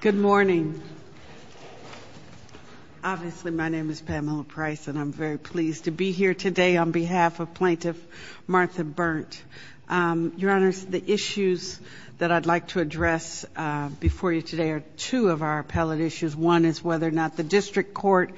Good morning. Obviously, my name is Pamela Price and I'm very pleased to be here today on behalf of plaintiff Martha Berndt. Your Honors, the issues that I'd like to address before you today are two of our appellate issues. One is whether or not the district court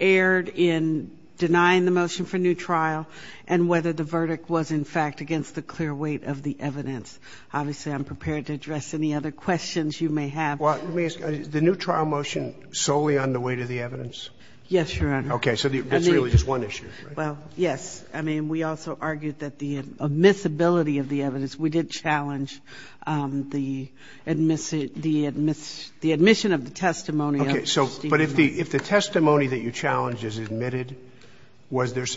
erred in denying the motion for new trial and whether the verdict was in fact against the clear weight of the evidence. Obviously, I'm prepared to address any other questions you may have. Well, let me ask, is the new trial motion solely on the weight of the evidence? Yes, Your Honor. Okay. So that's really just one issue, right? Well, yes. I mean, we also argued that the admissibility of the evidence, we did challenge the admission of the testimony of the statement. Okay. So but if the testimony that you challenged is admitted, was there –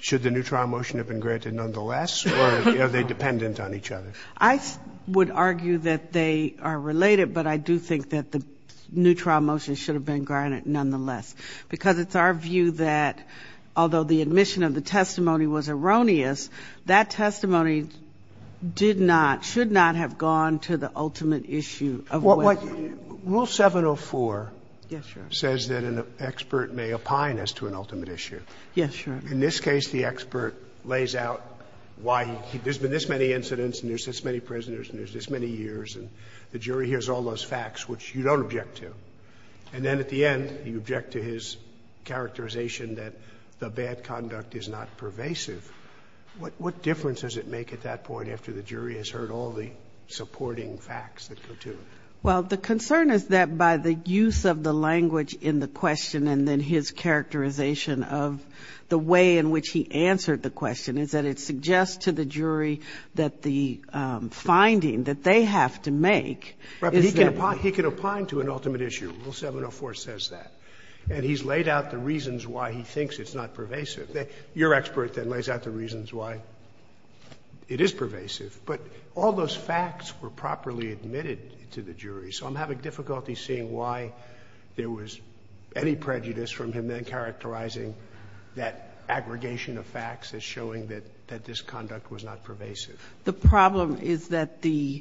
should the new trial motion have been granted nonetheless or are they dependent on each other? I would argue that they are related, but I do think that the new trial motion should have been granted nonetheless. Because it's our view that although the admission of the testimony was erroneous, that testimony did not, should not have gone to the ultimate issue of weight. Rule 704 says that an expert may opine as to an ultimate issue. Yes, Your Honor. In this case, the expert lays out why he – there's been this many incidents and there's this many prisoners and there's this many years and the jury hears all those facts, which you don't object to. And then at the end, you object to his characterization that the bad conduct is not pervasive. What difference does it make at that point after the jury has heard all the supporting facts that go to it? Well, the concern is that by the use of the language in the question and then his characterization of the way in which he answered the question is that it suggests to the jury that the finding that they have to make is that he can opine to an ultimate issue. Rule 704 says that. And he's laid out the reasons why he thinks it's not pervasive. Your expert then lays out the reasons why it is pervasive. But all those facts were properly admitted to the jury. So I'm having difficulty seeing why there was any prejudice from him then characterizing that aggregation of facts as showing that this conduct was not pervasive. The problem is that the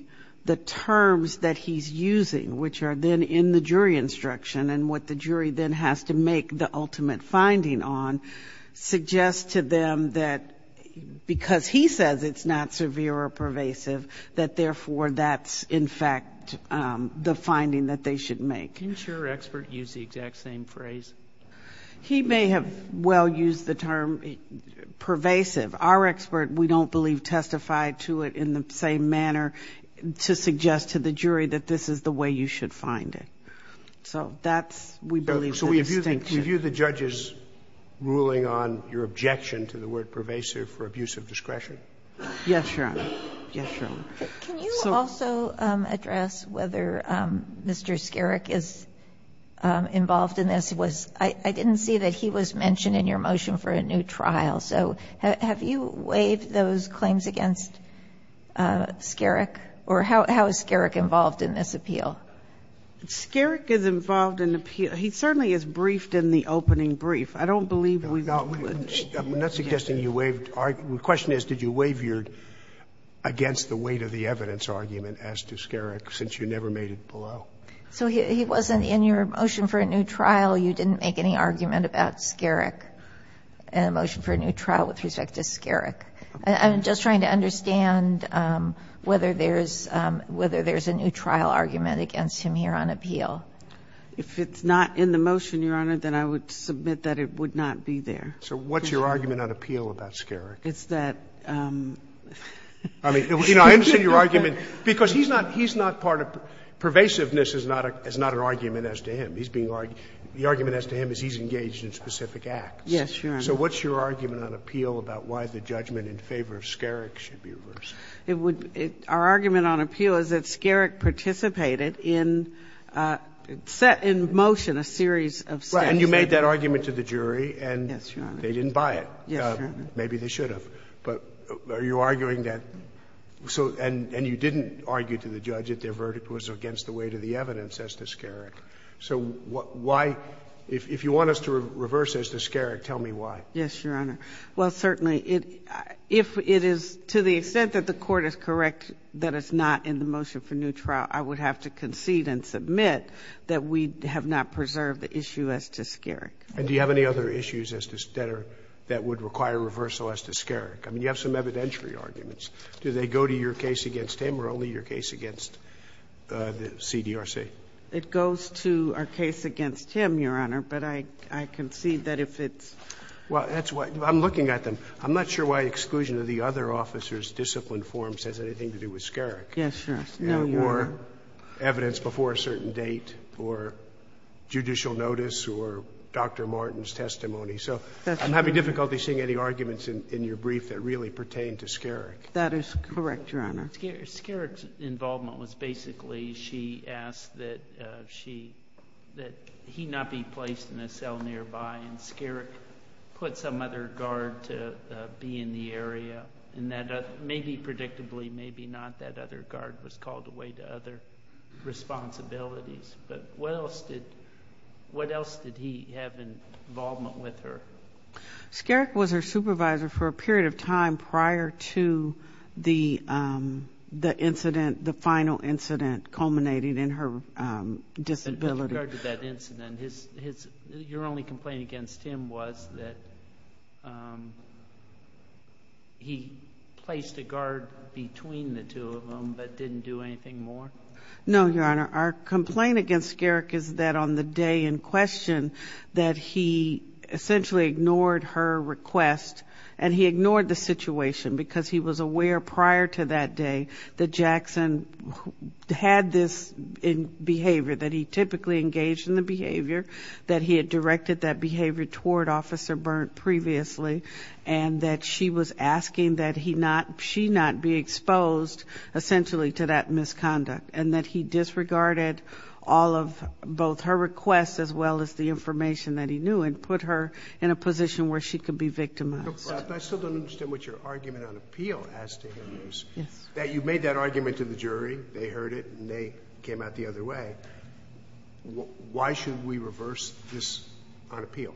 terms that he's using, which are then in the jury instruction and what the jury then has to make the ultimate finding on, suggests to them that because he says it's not severe or pervasive, that therefore that's in fact the finding that they should make. Can't your expert use the exact same phrase? He may have well used the term pervasive. Our expert, we don't believe, testified to it in the same manner to suggest to the jury that this is the way you should find it. So that's, we believe, the distinction. So we view the judge's ruling on your objection to the word pervasive for abuse of discretion? Yes, Your Honor. Yes, Your Honor. Can you also address whether Mr. Skerek is involved in this? I didn't see that he was mentioned in your motion for a new trial. So have you waived those claims against Skerek? Or how is Skerek involved in this appeal? Skerek is involved in appeal. He certainly is briefed in the opening brief. I don't believe we would. I'm not suggesting you waived. The question is, did you waivered against the weight of the evidence argument as to Skerek, since you never made it below? So he wasn't in your motion for a new trial. You didn't make any argument about Skerek in the motion for a new trial with respect to Skerek. I'm just trying to understand whether there's a new trial argument against him here on appeal. If it's not in the motion, Your Honor, then I would submit that it would not be there. So what's your argument on appeal about Skerek? It's that — I mean, you know, I understand your argument, because he's not part of — pervasiveness is not an argument as to him. He's being — the argument as to him is he's engaged in specific acts. Yes, Your Honor. So what's your argument on appeal about why the judgment in favor of Skerek should be reversed? It would — our argument on appeal is that Skerek participated in a set — in motion, a series of steps. Right. And you made that argument to the jury and — Yes, Your Honor. — they didn't buy it. Yes, Your Honor. Maybe they should have. But are you arguing that — so — and you didn't argue to the judge that their verdict was against the weight of the evidence as to Skerek. So why — if you want us to reverse as to Skerek, tell me why. Yes, Your Honor. Well, certainly, it — if it is — to the extent that the Court is correct that it's not in the motion for new trial, I would have to concede and submit that we have not preserved the issue as to Skerek. And do you have any other issues as to — that are — that would require reversal as to Skerek? I mean, you have some evidentiary arguments. Do they go to your case against him or only your case against the CDRC? It goes to our case against him, Your Honor, but I concede that if it's — Well, that's why — I'm looking at them. I'm not sure why exclusion of the other officers' disciplined forms has anything to do with Skerek. Yes, Your Honor. Or evidence before a certain date, or judicial notice, or Dr. Martin's testimony. So I'm having difficulty seeing any arguments in your brief that really pertain to Skerek. That is correct, Your Honor. Skerek's involvement was basically she asked that she — that he not be placed in a cell nearby, and Skerek put some other guard to be in the area, and that maybe predictably, maybe not that other guard was called away to other responsibilities. But what else did — what else did he have involvement with her? Skerek was her supervisor for a period of time prior to the incident — the final incident culminating in her disability. But regard to that incident, his — your only complaint against him was that he placed a guard between the two of them, but didn't do anything more? No, Your Honor. Our complaint against Skerek is that on the day in question, that he essentially ignored her request, and he ignored the situation because he was aware prior to that day that Jackson had this behavior, that he typically engaged in the behavior, that he had directed that behavior toward Officer Burnt previously, and that she was asking that he not — she not be exposed, essentially, to that misconduct, and that he disregarded all of both her requests as well as the information that he knew and put her in a position where she could be victimized. But I still don't understand what your argument on appeal has to do with this, that you made that argument to the jury, they heard it, and they came out the other way. But why should we reverse this on appeal?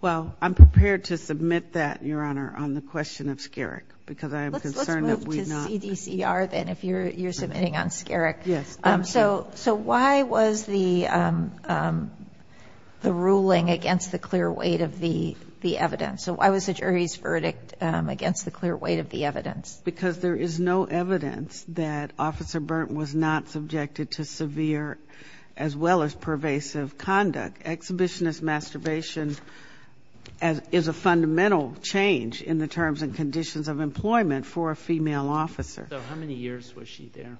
Well, I'm prepared to submit that, Your Honor, on the question of Skerek, because I am concerned that we not — Let's move to CDCR, then, if you're submitting on Skerek. Yes. So why was the ruling against the clear weight of the evidence? So why was the jury's verdict against the clear weight of the evidence? Because there is no evidence that Officer Burnt was not subjected to severe as well as pervasive conduct. Exhibitionist masturbation is a fundamental change in the terms and conditions of employment for a female officer. So how many years was she there?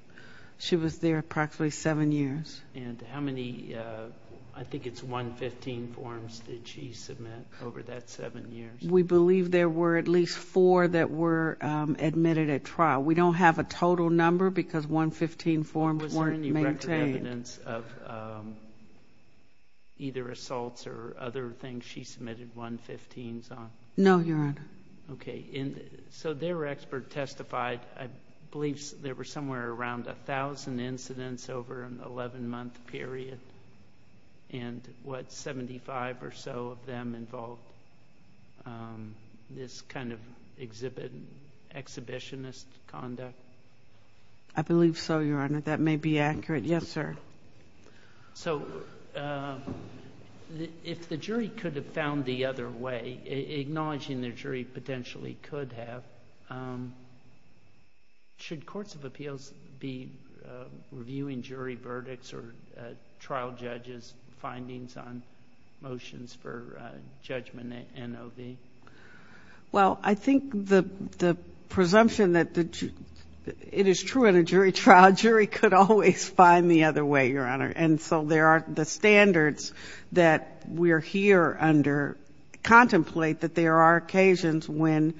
She was there approximately seven years. And how many — I think it's 115 forms did she submit over that seven years? We believe there were at least four that were admitted at trial. We don't have a total number because 115 forms weren't maintained. Was there any record evidence of either assaults or other things she submitted 115s on? No, Your Honor. Okay. So their expert testified, I believe there were somewhere around 1,000 incidents over an 11-month period, and what, 75 or so of them involved sexual assault. This kind of exhibit, exhibitionist conduct? I believe so, Your Honor. That may be accurate. Yes, sir. So if the jury could have found the other way, acknowledging the jury potentially could have, should courts of appeals be reviewing jury verdicts or trial judges' findings on their judgment NOV? Well, I think the presumption that it is true in a jury trial, a jury could always find the other way, Your Honor. And so there are the standards that we're here under contemplate that there are occasions when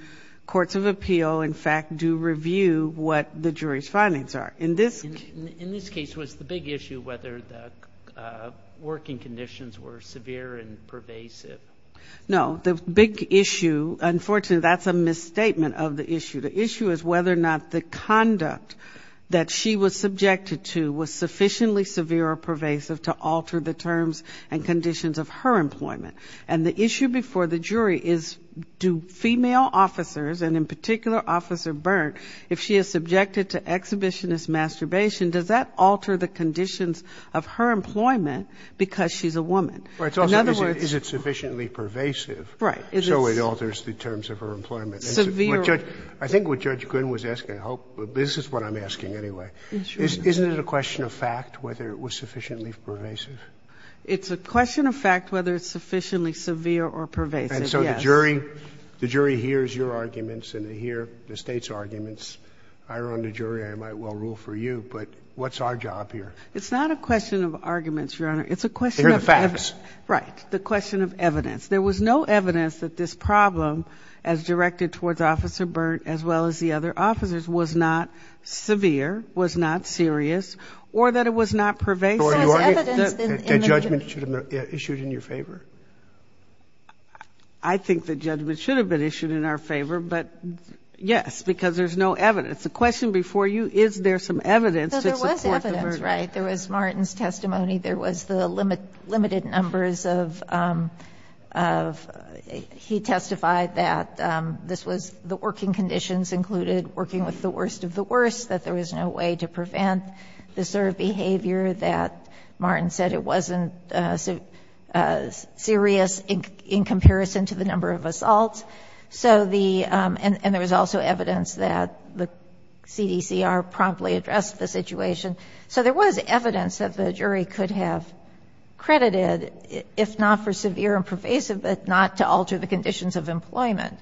courts of appeal, in fact, do review what the jury's findings are. In this case, was the big issue whether the working conditions were severe and pervasive No, the big issue, unfortunately, that's a misstatement of the issue. The issue is whether or not the conduct that she was subjected to was sufficiently severe or pervasive to alter the terms and conditions of her employment. And the issue before the jury is, do female officers, and in particular Officer Byrne, if she is subjected to exhibitionist masturbation, does that alter the conditions of her employment because she's a woman? In other words, is it sufficiently pervasive so it alters the terms of her employment? I think what Judge Gooden was asking, this is what I'm asking anyway, isn't it a question of fact whether it was sufficiently pervasive? It's a question of fact whether it's sufficiently severe or pervasive, yes. And so the jury hears your arguments and they hear the state's arguments. I run the jury, I might well rule for you, but what's our job here? It's not a question of arguments, Your Honor. It's a question of facts. Right. The question of evidence. There was no evidence that this problem, as directed towards Officer Byrne as well as the other officers, was not severe, was not serious, or that it was not pervasive. So there's evidence in the jury? That judgment should have been issued in your favor? I think that judgment should have been issued in our favor, but yes, because there's no evidence. The question before you, is there some evidence to support the verdict? That's right. There was Martin's testimony. There was the limited numbers of, he testified that this was, the working conditions included working with the worst of the worst, that there was no way to prevent this sort of behavior, that Martin said it wasn't serious in comparison to the number of assaults. So the, and there was also evidence that the CDCR promptly addressed the situation. So there was evidence that the jury could have credited, if not for severe and pervasive, but not to alter the conditions of employment.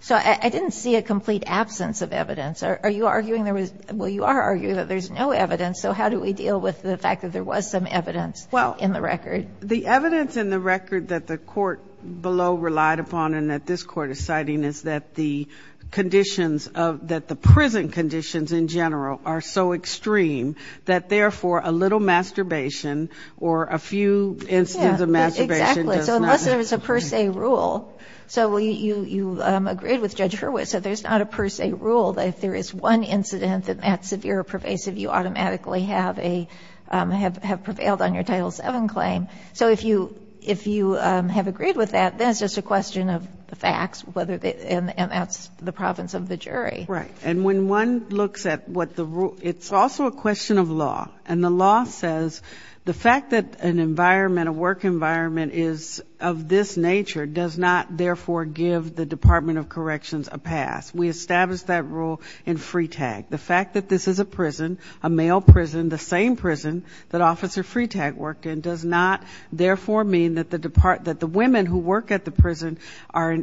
So I didn't see a complete absence of evidence. Are you arguing there was, well, you are arguing that there's no evidence, so how do we deal with the fact that there was some evidence in the record? The evidence in the record that the Court below relied upon and that this Court is citing is that the conditions of, that the prison conditions in general are so extreme that therefore a little masturbation or a few incidents of masturbation does not. Yeah, exactly. So unless there was a per se rule. So you agreed with Judge Hurwitz that there's not a per se rule that if there is one incident that's severe or pervasive, you automatically have a, have prevailed on your Title VII claim. So if you, if you have agreed with that, then it's just a question of the facts, whether they, and that's the province of the jury. Right. And when one looks at what the rule, it's also a question of law. And the law says the fact that an environment, a work environment is of this nature does not therefore give the Department of Corrections a pass. We established that rule in Freetag. The fact that this is a prison, a male prison, the same prison that Officer Freetag worked in, does not therefore mean that the women who work at the prison are,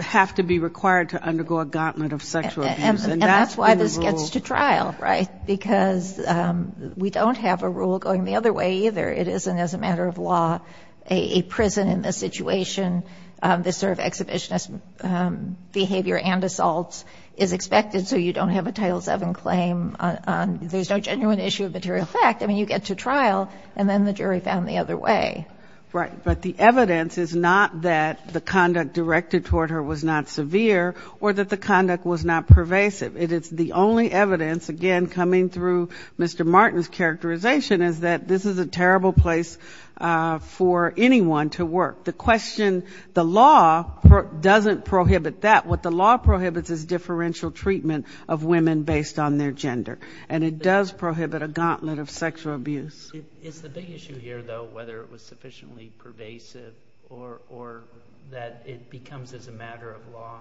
have to be required to undergo a gauntlet of sexual abuse. And that's why this gets to trial, right? Because we don't have a rule going the other way either. It isn't as a matter of law, a prison in this situation, this sort of exhibitionist behavior and assaults is expected. So you don't have a Title VII claim. There's no genuine issue of material fact. I mean, you get to trial and then the jury found the other way. Right. But the evidence is not that the conduct directed toward her was not severe or that the conduct was not pervasive. It is the only evidence, again, coming through Mr. Martin's characterization is that this is a terrible place for anyone to work. The question, the law doesn't prohibit that. What the law prohibits is differential treatment of women based on their gender. And it does prohibit a gauntlet of sexual abuse. It's the big issue here, though, whether it was sufficiently pervasive or that it becomes as a matter of law.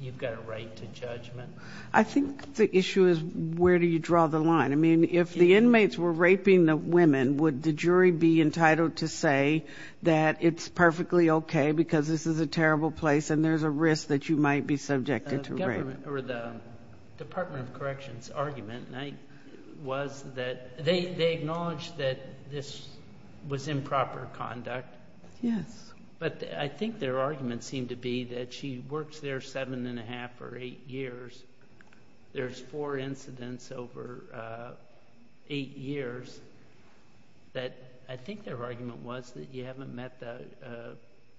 You've got a right to judgment. I think the issue is, where do you draw the line? I mean, if the inmates were raping the women, would the jury be entitled to say that it's perfectly okay because this is a terrible place and there's a risk that you might be subjected to rape? The Department of Corrections argument was that they acknowledged that this was improper conduct. Yes. But I think their argument seemed to be that she worked there seven and a half or eight years. There's four incidents over eight years that I think their argument was that you haven't met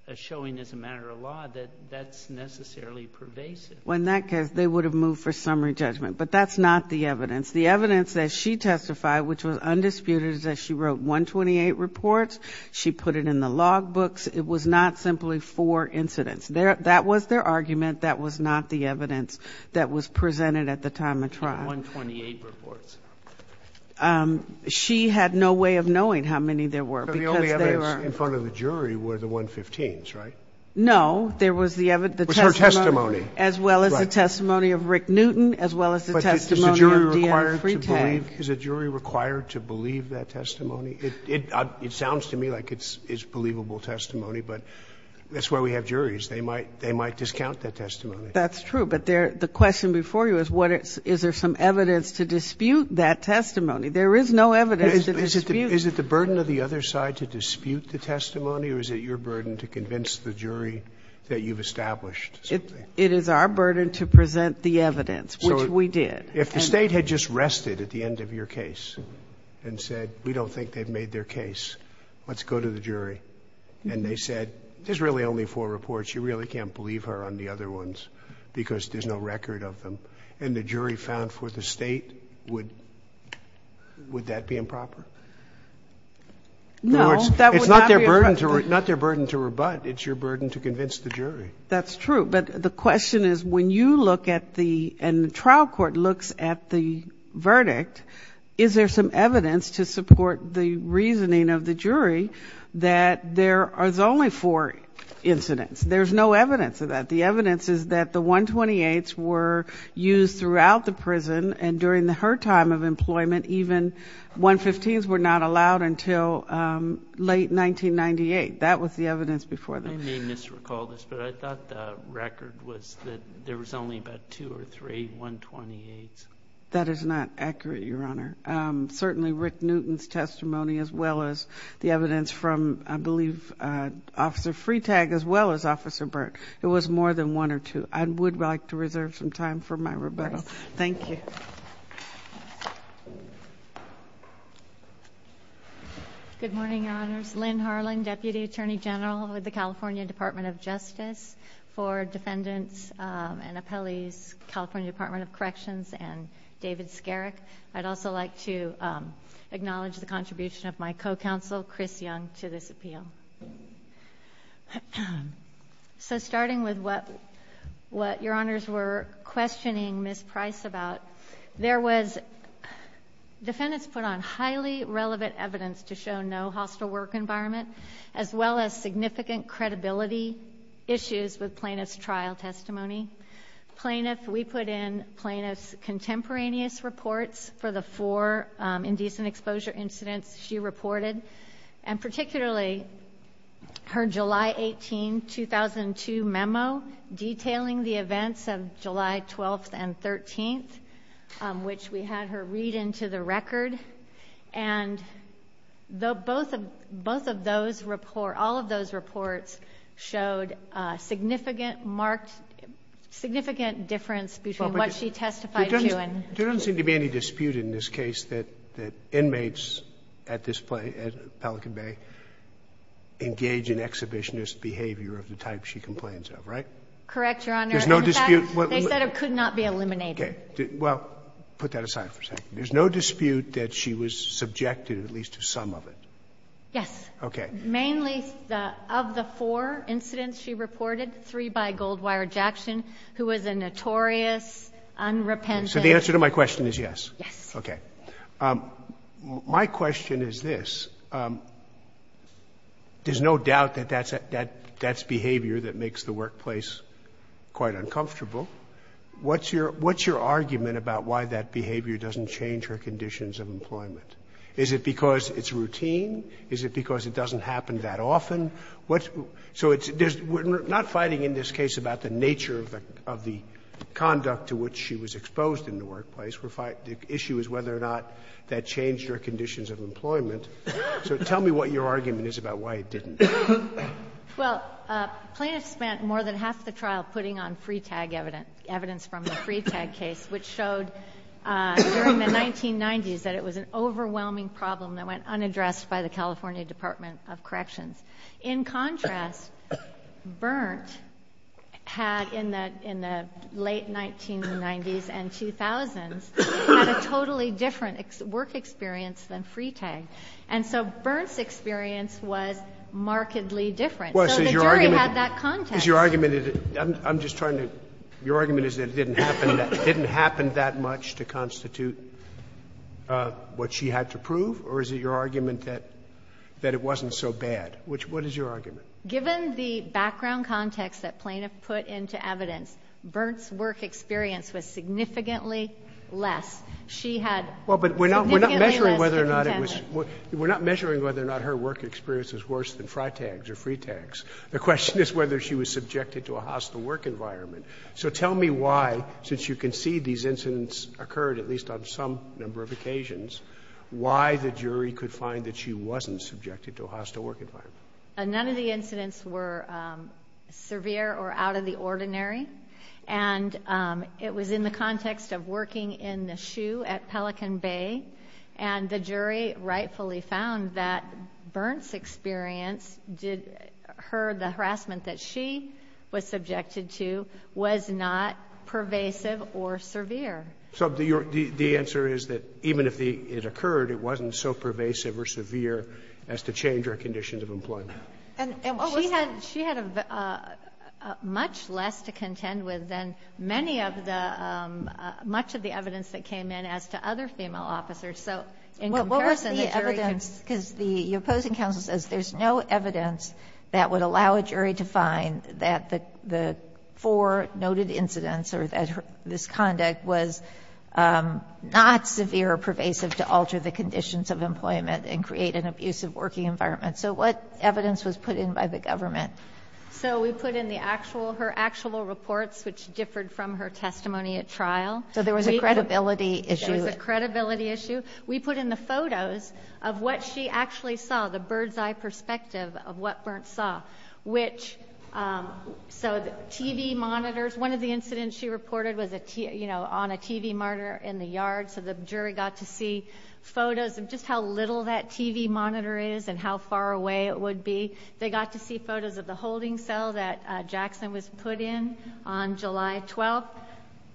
a showing as a matter of law that that's necessarily pervasive. Well, in that case, they would have moved for summary judgment. But that's not the evidence. The evidence that she testified, which was undisputed, is that she wrote 128 reports. She put it in the logbooks. It was not simply four incidents. That was their argument. That was not the evidence that was presented at the time of trial. 128 reports. She had no way of knowing how many there were because they were. The only evidence in front of the jury were the 115s, right? No. There was the evidence. It was her testimony. As well as the testimony of Rick Newton, as well as the testimony of D.I. Freitag. But is a jury required to believe that testimony? It sounds to me like it's believable testimony, but that's why we have juries. They might discount that testimony. That's true. But the question before you is what is there some evidence to dispute that testimony. There is no evidence to dispute. Is it the burden of the other side to dispute the testimony, or is it your burden to convince the jury that you've established something? It is our burden to present the evidence, which we did. If the state had just rested at the end of your case and said, we don't think they've made their case, let's go to the jury. And they said, there's really only four reports. You really can't believe her on the other ones because there's no record of them. And the jury found for the state, would that be improper? No, that's not their burden to rebut. It's your burden to convince the jury. That's true. But the question is, when you look at the, and the trial court looks at the verdict, is there some evidence to support the reasoning of the jury that there are only four incidents? There's no evidence of that. The evidence is that the 128s were used throughout the prison. And during her time of employment, even 115s were not allowed until late 1998. That was the evidence before that. I may misrecall this, but I thought the record was that there was only about two or three 128s. That is not accurate, Your Honor. Certainly Rick Newton's testimony, as well as the evidence from, I believe, Officer Freetag, as well as Officer Burke, it was more than one or two. I would like to reserve some time for my rebuttal. Thank you. Good morning, Your Honors. Lynn Harling, Deputy Attorney General with the California Department of Justice for Defendants and Appellees, California Department of Corrections, and David Skerek. I'd also like to acknowledge the contribution of my co-counsel, Chris Young, to this appeal. So starting with what, what Your Honors were questioning Ms. Price about, there was, defendants put on highly relevant evidence to show no hostile work environment, as well as significant credibility issues with plaintiff's trial testimony. Plaintiff, we put in plaintiff's contemporaneous reports for the four indecent exposure incidents she reported, and particularly her July 18, 2002 memo detailing the events of July 12th and 13th, which we had her read into the record. And though both of, both of those report, all of those reports showed a significant marked, significant difference between what she testified to and... There doesn't seem to be any dispute in this case that, that inmates at this play, at Pelican Bay, engage in exhibitionist behavior of the type she complains of, right? Correct, Your Honor. There's no dispute... In fact, they said it could not be eliminated. Well, put that aside for a second. There's no dispute that she was subjected, at least to some of it. Yes. Okay. Mainly the, of the four incidents she reported, three by Goldwire Jackson, who was a notorious, unrepentant... So the answer to my question is yes. Yes. Okay. My question is this, there's no doubt that that's, that, that's behavior that makes the workplace quite uncomfortable. What's your, what's your argument about why that behavior doesn't change her conditions of employment? Is it because it's routine? Is it because it doesn't happen that often? What's, so it's, there's, we're not fighting in this case about the nature of the, of the conduct to which she was exposed in the workplace. We're fighting, the issue is whether or not that changed her conditions of employment. So tell me what your argument is about why it didn't. Well, plaintiffs spent more than half the trial putting on free tag evidence, evidence from the free tag case, which showed during the 1990s that it was an overwhelming problem that went unaddressed by the California Department of Corrections. In contrast, Berndt had in the, in the late 1990s and 2000s, had a totally different work experience than free tag. And so Berndt's experience was markedly different. So the jury had that context. Is your argument, I'm just trying to, your argument is that it didn't happen, it didn't happen that much to constitute what she had to prove? Or is it your argument that, that it wasn't so bad? Which, what is your argument? Given the background context that plaintiff put into evidence, Berndt's work experience was significantly less. She had significantly less to contend with. Well, but we're not, we're not measuring whether or not it was, we're not measuring whether or not her work experience was worse than FriTags or FreeTags. The question is whether she was subjected to a hostile work environment. So tell me why, since you can see these incidents occurred at least on some number of occasions, why the jury could find that she wasn't subjected to a hostile work environment. None of the incidents were severe or out of the ordinary. And it was in the context of working in the SHU at Pelican Bay and the jury rightfully found that Berndt's experience did, her, the harassment that she was subjected to was not pervasive or severe. So the answer is that even if it occurred, it wasn't so pervasive or severe as to change her conditions of employment. And she had, she had a much less to contend with than many of the, much of the evidence that came in as to other female officers. So in comparison, the jury can. Because the opposing counsel says there's no evidence that would allow a jury to find that the four noted incidents or that this conduct was not severe or pervasive to alter the conditions of employment and create an abusive working environment. So what evidence was put in by the government? So we put in the actual, her actual reports, which differed from her testimony at trial. So there was a credibility issue. There was a credibility issue. We put in the photos of what she actually saw, the bird's eye perspective of what Berndt saw, which, so the TV monitors, one of the incidents she reported was a, you know, on a TV monitor in the yard. So the jury got to see photos of just how little that TV monitor is and how far away it would be. They got to see photos of the holding cell that Jackson was put in on July 12th.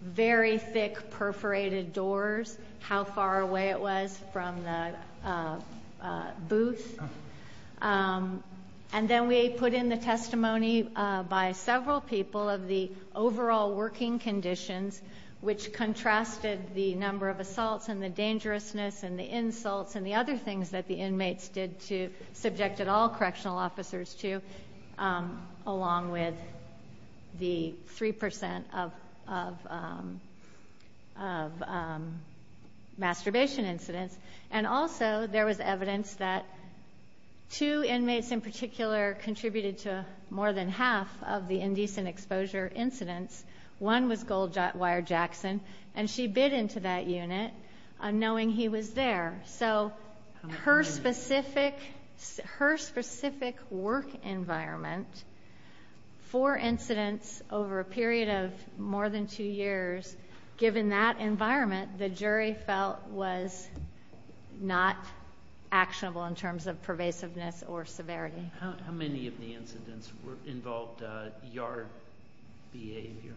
Very thick perforated doors, how far away it was from the booth. And then we put in the testimony by several people of the overall working conditions, which contrasted the number of assaults and the dangerousness and the insults and the other things that the inmates did to, subjected all correctional officers to, along with the 3% of masturbation incidents. And also there was evidence that two inmates in particular contributed to more than half of the indecent exposure incidents. One was Goldwire Jackson, and she bid into that unit knowing he was there. So her specific work environment for incidents over a period of more than two years, given that environment, the jury felt was not actionable in terms of pervasiveness or severity. How many of the incidents involved yard behavior?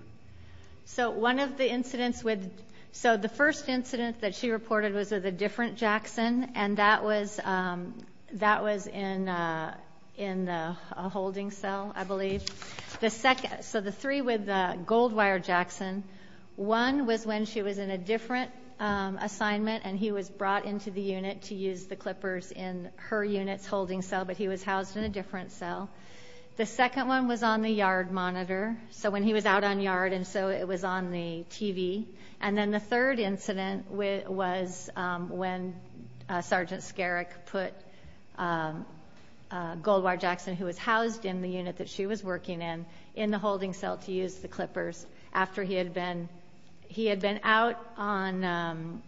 So one of the incidents with, so the first incident that she reported was with a different Jackson, and that was in a holding cell, I believe. The second, so the three with Goldwire Jackson, one was when she was in a different assignment and he was brought into the unit to use the clippers in her unit's holding cell, but he was housed in a different cell. The second one was on the yard monitor. So when he was out on yard, and so it was on the TV. And then the third incident was when Sergeant Skerek put Goldwire Jackson, who was housed in the unit that she was working in, in the holding cell to use the clippers after he had been, he had been out on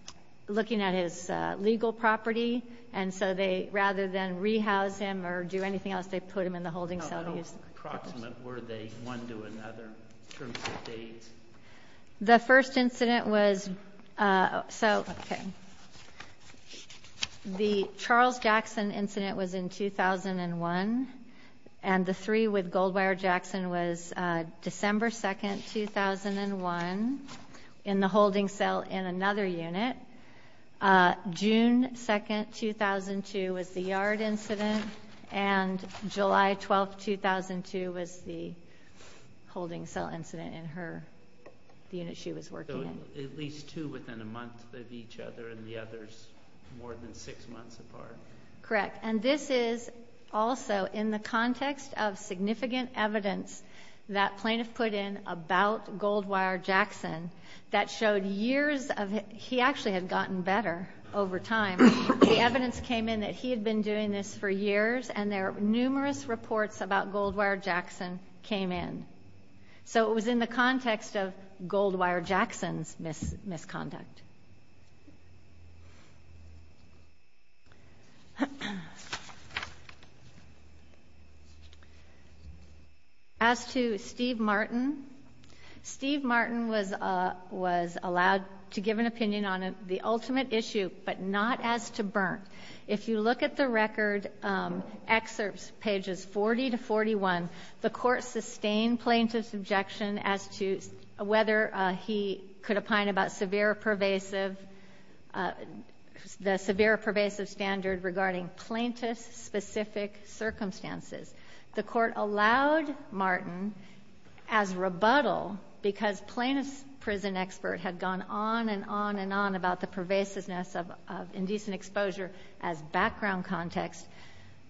looking at his legal property. And so they, rather than rehouse him or do anything else, they put him in the holding cell to use the clippers. How approximate were they one to another in terms of dates? The first incident was, so the Charles Jackson incident was in 2001, and the three with Goldwire Jackson was December 2nd, 2001 in the holding cell in another unit. Uh, June 2nd, 2002 was the yard incident, and July 12th, 2002 was the holding cell incident in her, the unit she was working in. So at least two within a month of each other, and the others more than six months apart. Correct. And this is also in the context of significant evidence that plaintiff put in about Goldwire Jackson that showed years of, he actually had gotten better over time. The evidence came in that he had been doing this for years and there are numerous reports about Goldwire Jackson came in. So it was in the context of Goldwire Jackson's mis, misconduct. As to Steve Martin, Steve Martin was, uh, was allowed to give an opinion on the ultimate issue, but not as to Berndt. If you look at the record, um, excerpts, pages 40 to 41, the court sustained plaintiff's objection as to whether he could opine about severe pervasive uh, the severe pervasive standard regarding plaintiff's specific circumstances. The court allowed Martin as rebuttal because plaintiff's prison expert had gone on and on and on about the pervasiveness of, of indecent exposure as background context.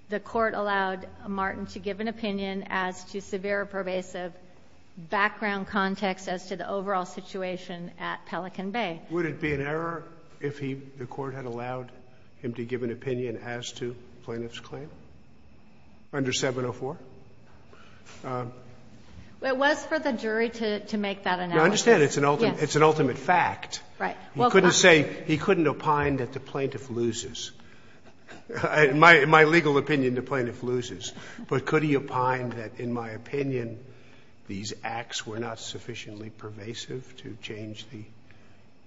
The court allowed Martin to give an opinion as to severe pervasive background context as to the overall situation at Pelican Bay. Would it be an error if he, the court had allowed him to give an opinion as to plaintiff's claim under 704? Um, it was for the jury to, to make that analysis. It's an ultimate, it's an ultimate fact. Right. You couldn't say he couldn't opine that the plaintiff loses my, my legal opinion, the plaintiff loses, but could he opine that in my opinion, these acts were not sufficiently pervasive to change the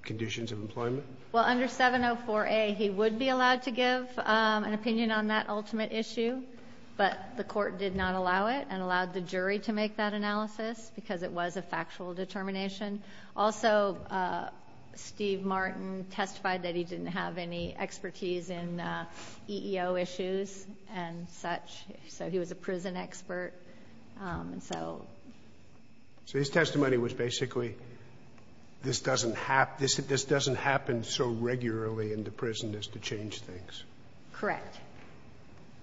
conditions of employment? Well, under 704A, he would be allowed to give, um, an opinion on that ultimate issue, but the court did not allow it and allowed the jury to make that analysis because it was a factual determination. Also, uh, Steve Martin testified that he didn't have any expertise in, uh, EEO issues and such, so he was a prison expert. Um, and so. So his testimony was basically, this doesn't have, this, this doesn't happen so regularly in the prison is to change things. Correct.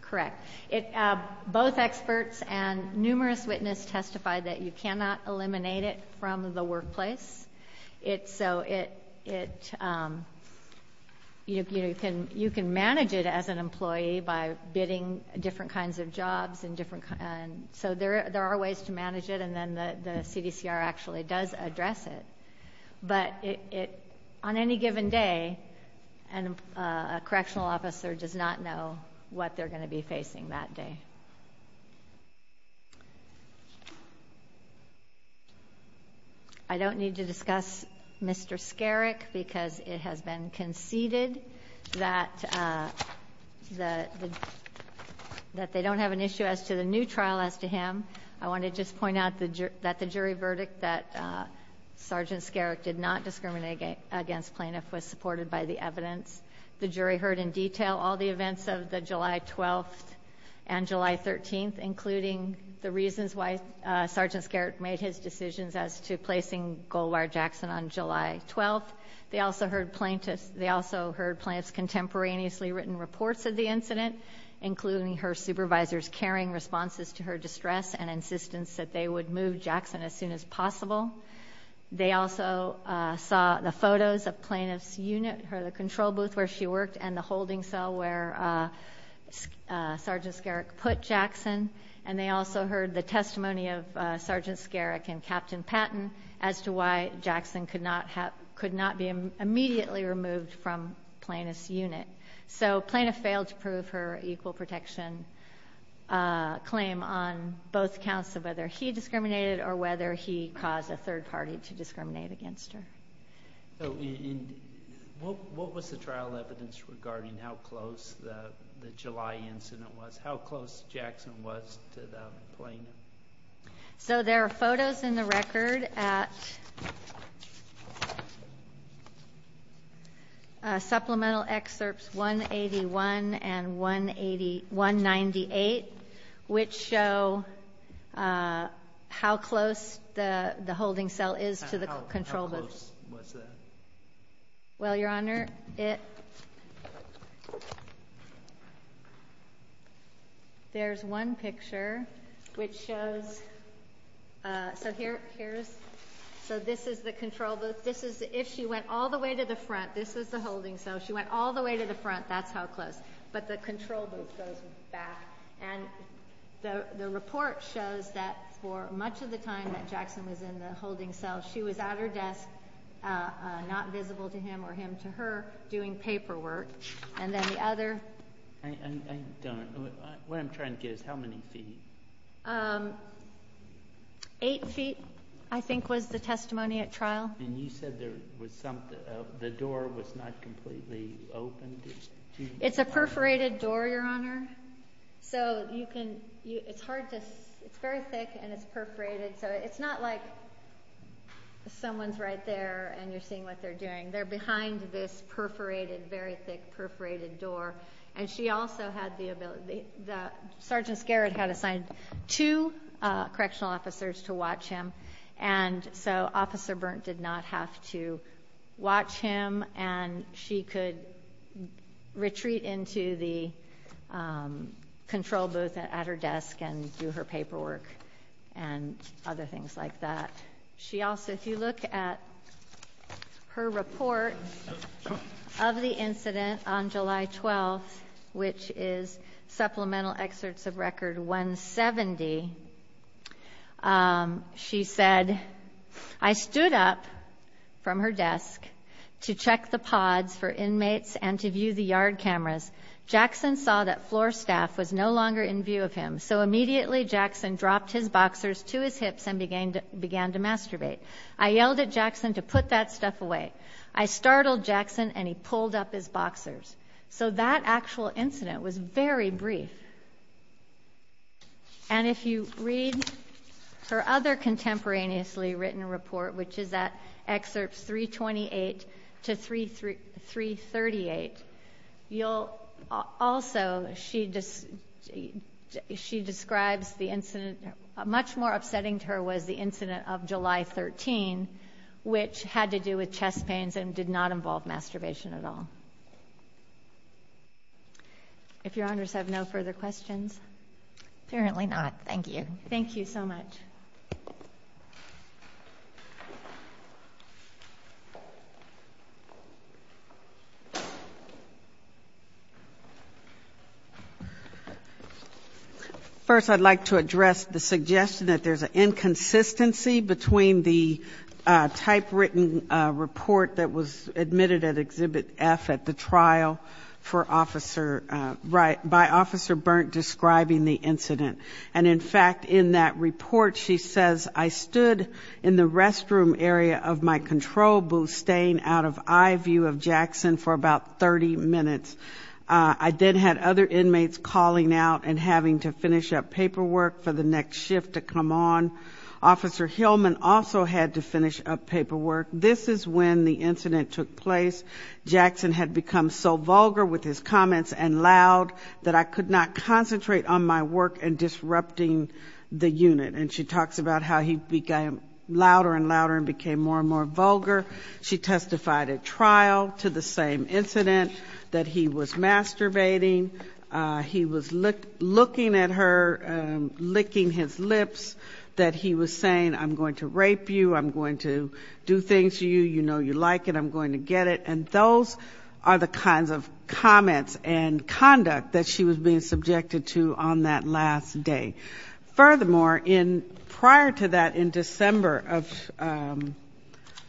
Correct. It, uh, both experts and numerous witness testified that you cannot eliminate it from the workplace. It's so it, it, um, you know, you can, you can manage it as an employee by bidding different kinds of jobs and different. And so there, there are ways to manage it. And then the, the CDCR actually does address it, but it, it, on any given day and a correctional officer does not know what they're going to be facing that day. I don't need to discuss Mr. Skerek because it has been conceded that, uh, the, that they don't have an issue as to the new trial as to him. I want to just point out that the jury verdict that, uh, Sergeant Skerek did not discriminate against plaintiff was supported by the evidence the jury heard in detail, all the events of the July 12th and July 13th, including the reasons why Sergeant Skerek made his decisions as to placing Goldwater Jackson on July 12th, they also heard plaintiffs. They also heard plaintiffs contemporaneously written reports of the incident, including her supervisor's caring responses to her distress and insistence that they would move Jackson as soon as possible. They also saw the photos of plaintiff's unit, her, the control booth where she worked and the holding cell where, uh, uh, Sergeant Skerek put Jackson. And they also heard the testimony of, uh, Sergeant Skerek and Captain Patton as to why Jackson could not have, could not be immediately removed from plaintiff's unit. So plaintiff failed to prove her equal protection, uh, claim on both counts of whether he discriminated or whether he caused a third party to discriminate against her. So what was the trial evidence regarding how close the July incident was? How close Jackson was to the plane? So there are photos in the record at, uh, supplemental excerpts 181 and 181 98, which show, uh, how close the, the holding cell is to the control booth. Well, your honor it. There's one picture which shows, uh, so here, here's, so this is the control booth. This is the, if she went all the way to the front, this is the holding. So she went all the way to the front. That's how close, but the control booth goes back and the report shows that for much of the time that Jackson was in the holding cell, she was at her desk, uh, uh, not visible to him or him to her doing paperwork. And then the other. I don't know what I'm trying to get is how many feet? Um, eight feet I think was the testimony at trial. And you said there was something, uh, the door was not completely open. It's a perforated door, your honor. So you can, it's hard to, it's very thick and it's perforated. So it's not like someone's right there and you're seeing what they're doing. They're behind this perforated, very thick perforated door. And she also had the ability, the Sergeant Scarrett had assigned two, uh, correctional officers to watch him. And so officer Berndt did not have to watch him and she could retreat into the, um, control booth at her desk and do her paperwork and other things like that. She also, if you look at her report of the incident on July 12th, which is supplemental excerpts of record 170, um, she said, I stood up from her desk to check the pods for inmates and to view the yard cameras, Jackson saw that floor staff was no longer in view of him. So immediately Jackson dropped his boxers to his hips and began to masturbate. I yelled at Jackson to put that stuff away. I startled Jackson and he pulled up his boxers. So that actual incident was very brief. And if you read her other contemporaneously written report, which is that excerpts 328 to 338, you'll also, she describes the incident, much more upsetting to her was the incident of July 13, which had to do with chest pains and did not involve masturbation at all. If your honors have no further questions. Apparently not. Thank you. Thank you so much. First, I'd like to address the suggestion that there's an inconsistency between the, uh, type written, uh, report that was admitted at exhibit F at the trial for officer, uh, right by officer Berndt describing the incident. And in fact, in that report, she says, I stood in the restroom area of my control booth, staying out of eye view of Jackson for about 30 minutes. Uh, I then had other inmates calling out and having to finish up paperwork for the next shift to come on. Officer Hillman also had to finish up paperwork. This is when the incident took place. Jackson had become so vulgar with his comments and loud that I could not concentrate on my work and disrupting the unit. And she talks about how he became louder and louder and became more and more vulgar. She testified at trial to the same incident that he was masturbating. Uh, he was looking at her, um, licking his lips that he was saying, I'm going to rape you, I'm going to do things to you, you know, you like it, I'm going to get it. And those are the kinds of comments and conduct that she was being subjected to on that last day. Furthermore, in prior to that, in December of, um,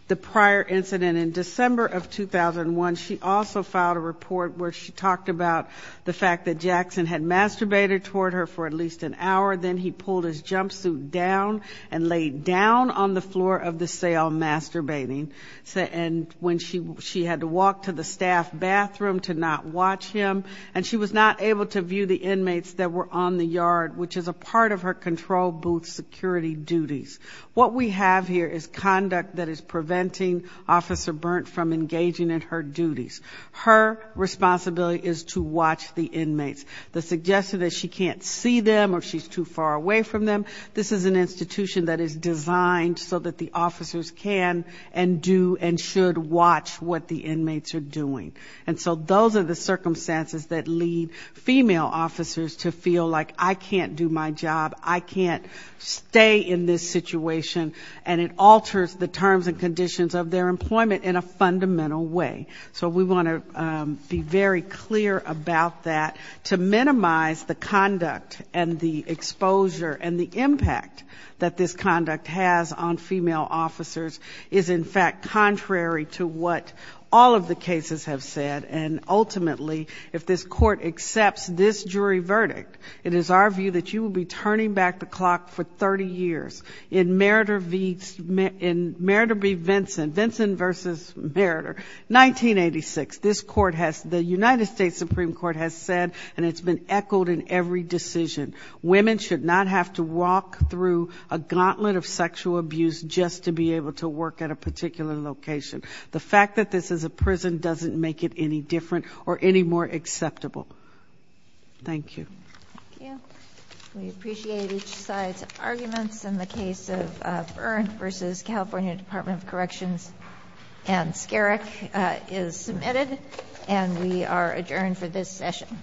the prior incident in December of 2001, she also filed a report where she talked about the fact that Jackson had masturbated toward her for at least an hour. Then he pulled his jumpsuit down and laid down on the floor of the cell, masturbating, and when she, she had to walk to the staff bathroom to not watch him and she was not able to view the inmates that were on the yard, which is a part of her control booth security duties. What we have here is conduct that is preventing Officer Burnt from engaging in her duties. Her responsibility is to watch the inmates. The suggestion that she can't see them or she's too far away from them. This is an institution that is designed so that the officers can and do and should watch what the inmates are doing. And so those are the circumstances that lead female officers to feel like, I can't do my job, I can't stay in this situation, and it alters the terms and conditions of their employment in a fundamental way. So we want to be very clear about that to minimize the conduct and the exposure and the impact that this conduct has on female officers is, in fact, contrary to what all of the cases have said. And ultimately, if this court accepts this jury verdict, it is our view that you will be turning back the clock for 30 years. In Meritor v. Vincent, Vincent versus Meritor, 1986, this court has, the United States Supreme Court has said, and it's been echoed in every decision, women should not have to walk through a gauntlet of sexual abuse just to be able to work at a particular location. The fact that this is a prison doesn't make it any different or any more acceptable. Thank you. We appreciate each side's arguments in the case of Byrne v. California Department of Corrections and Skerek is submitted and we are adjourned for this session.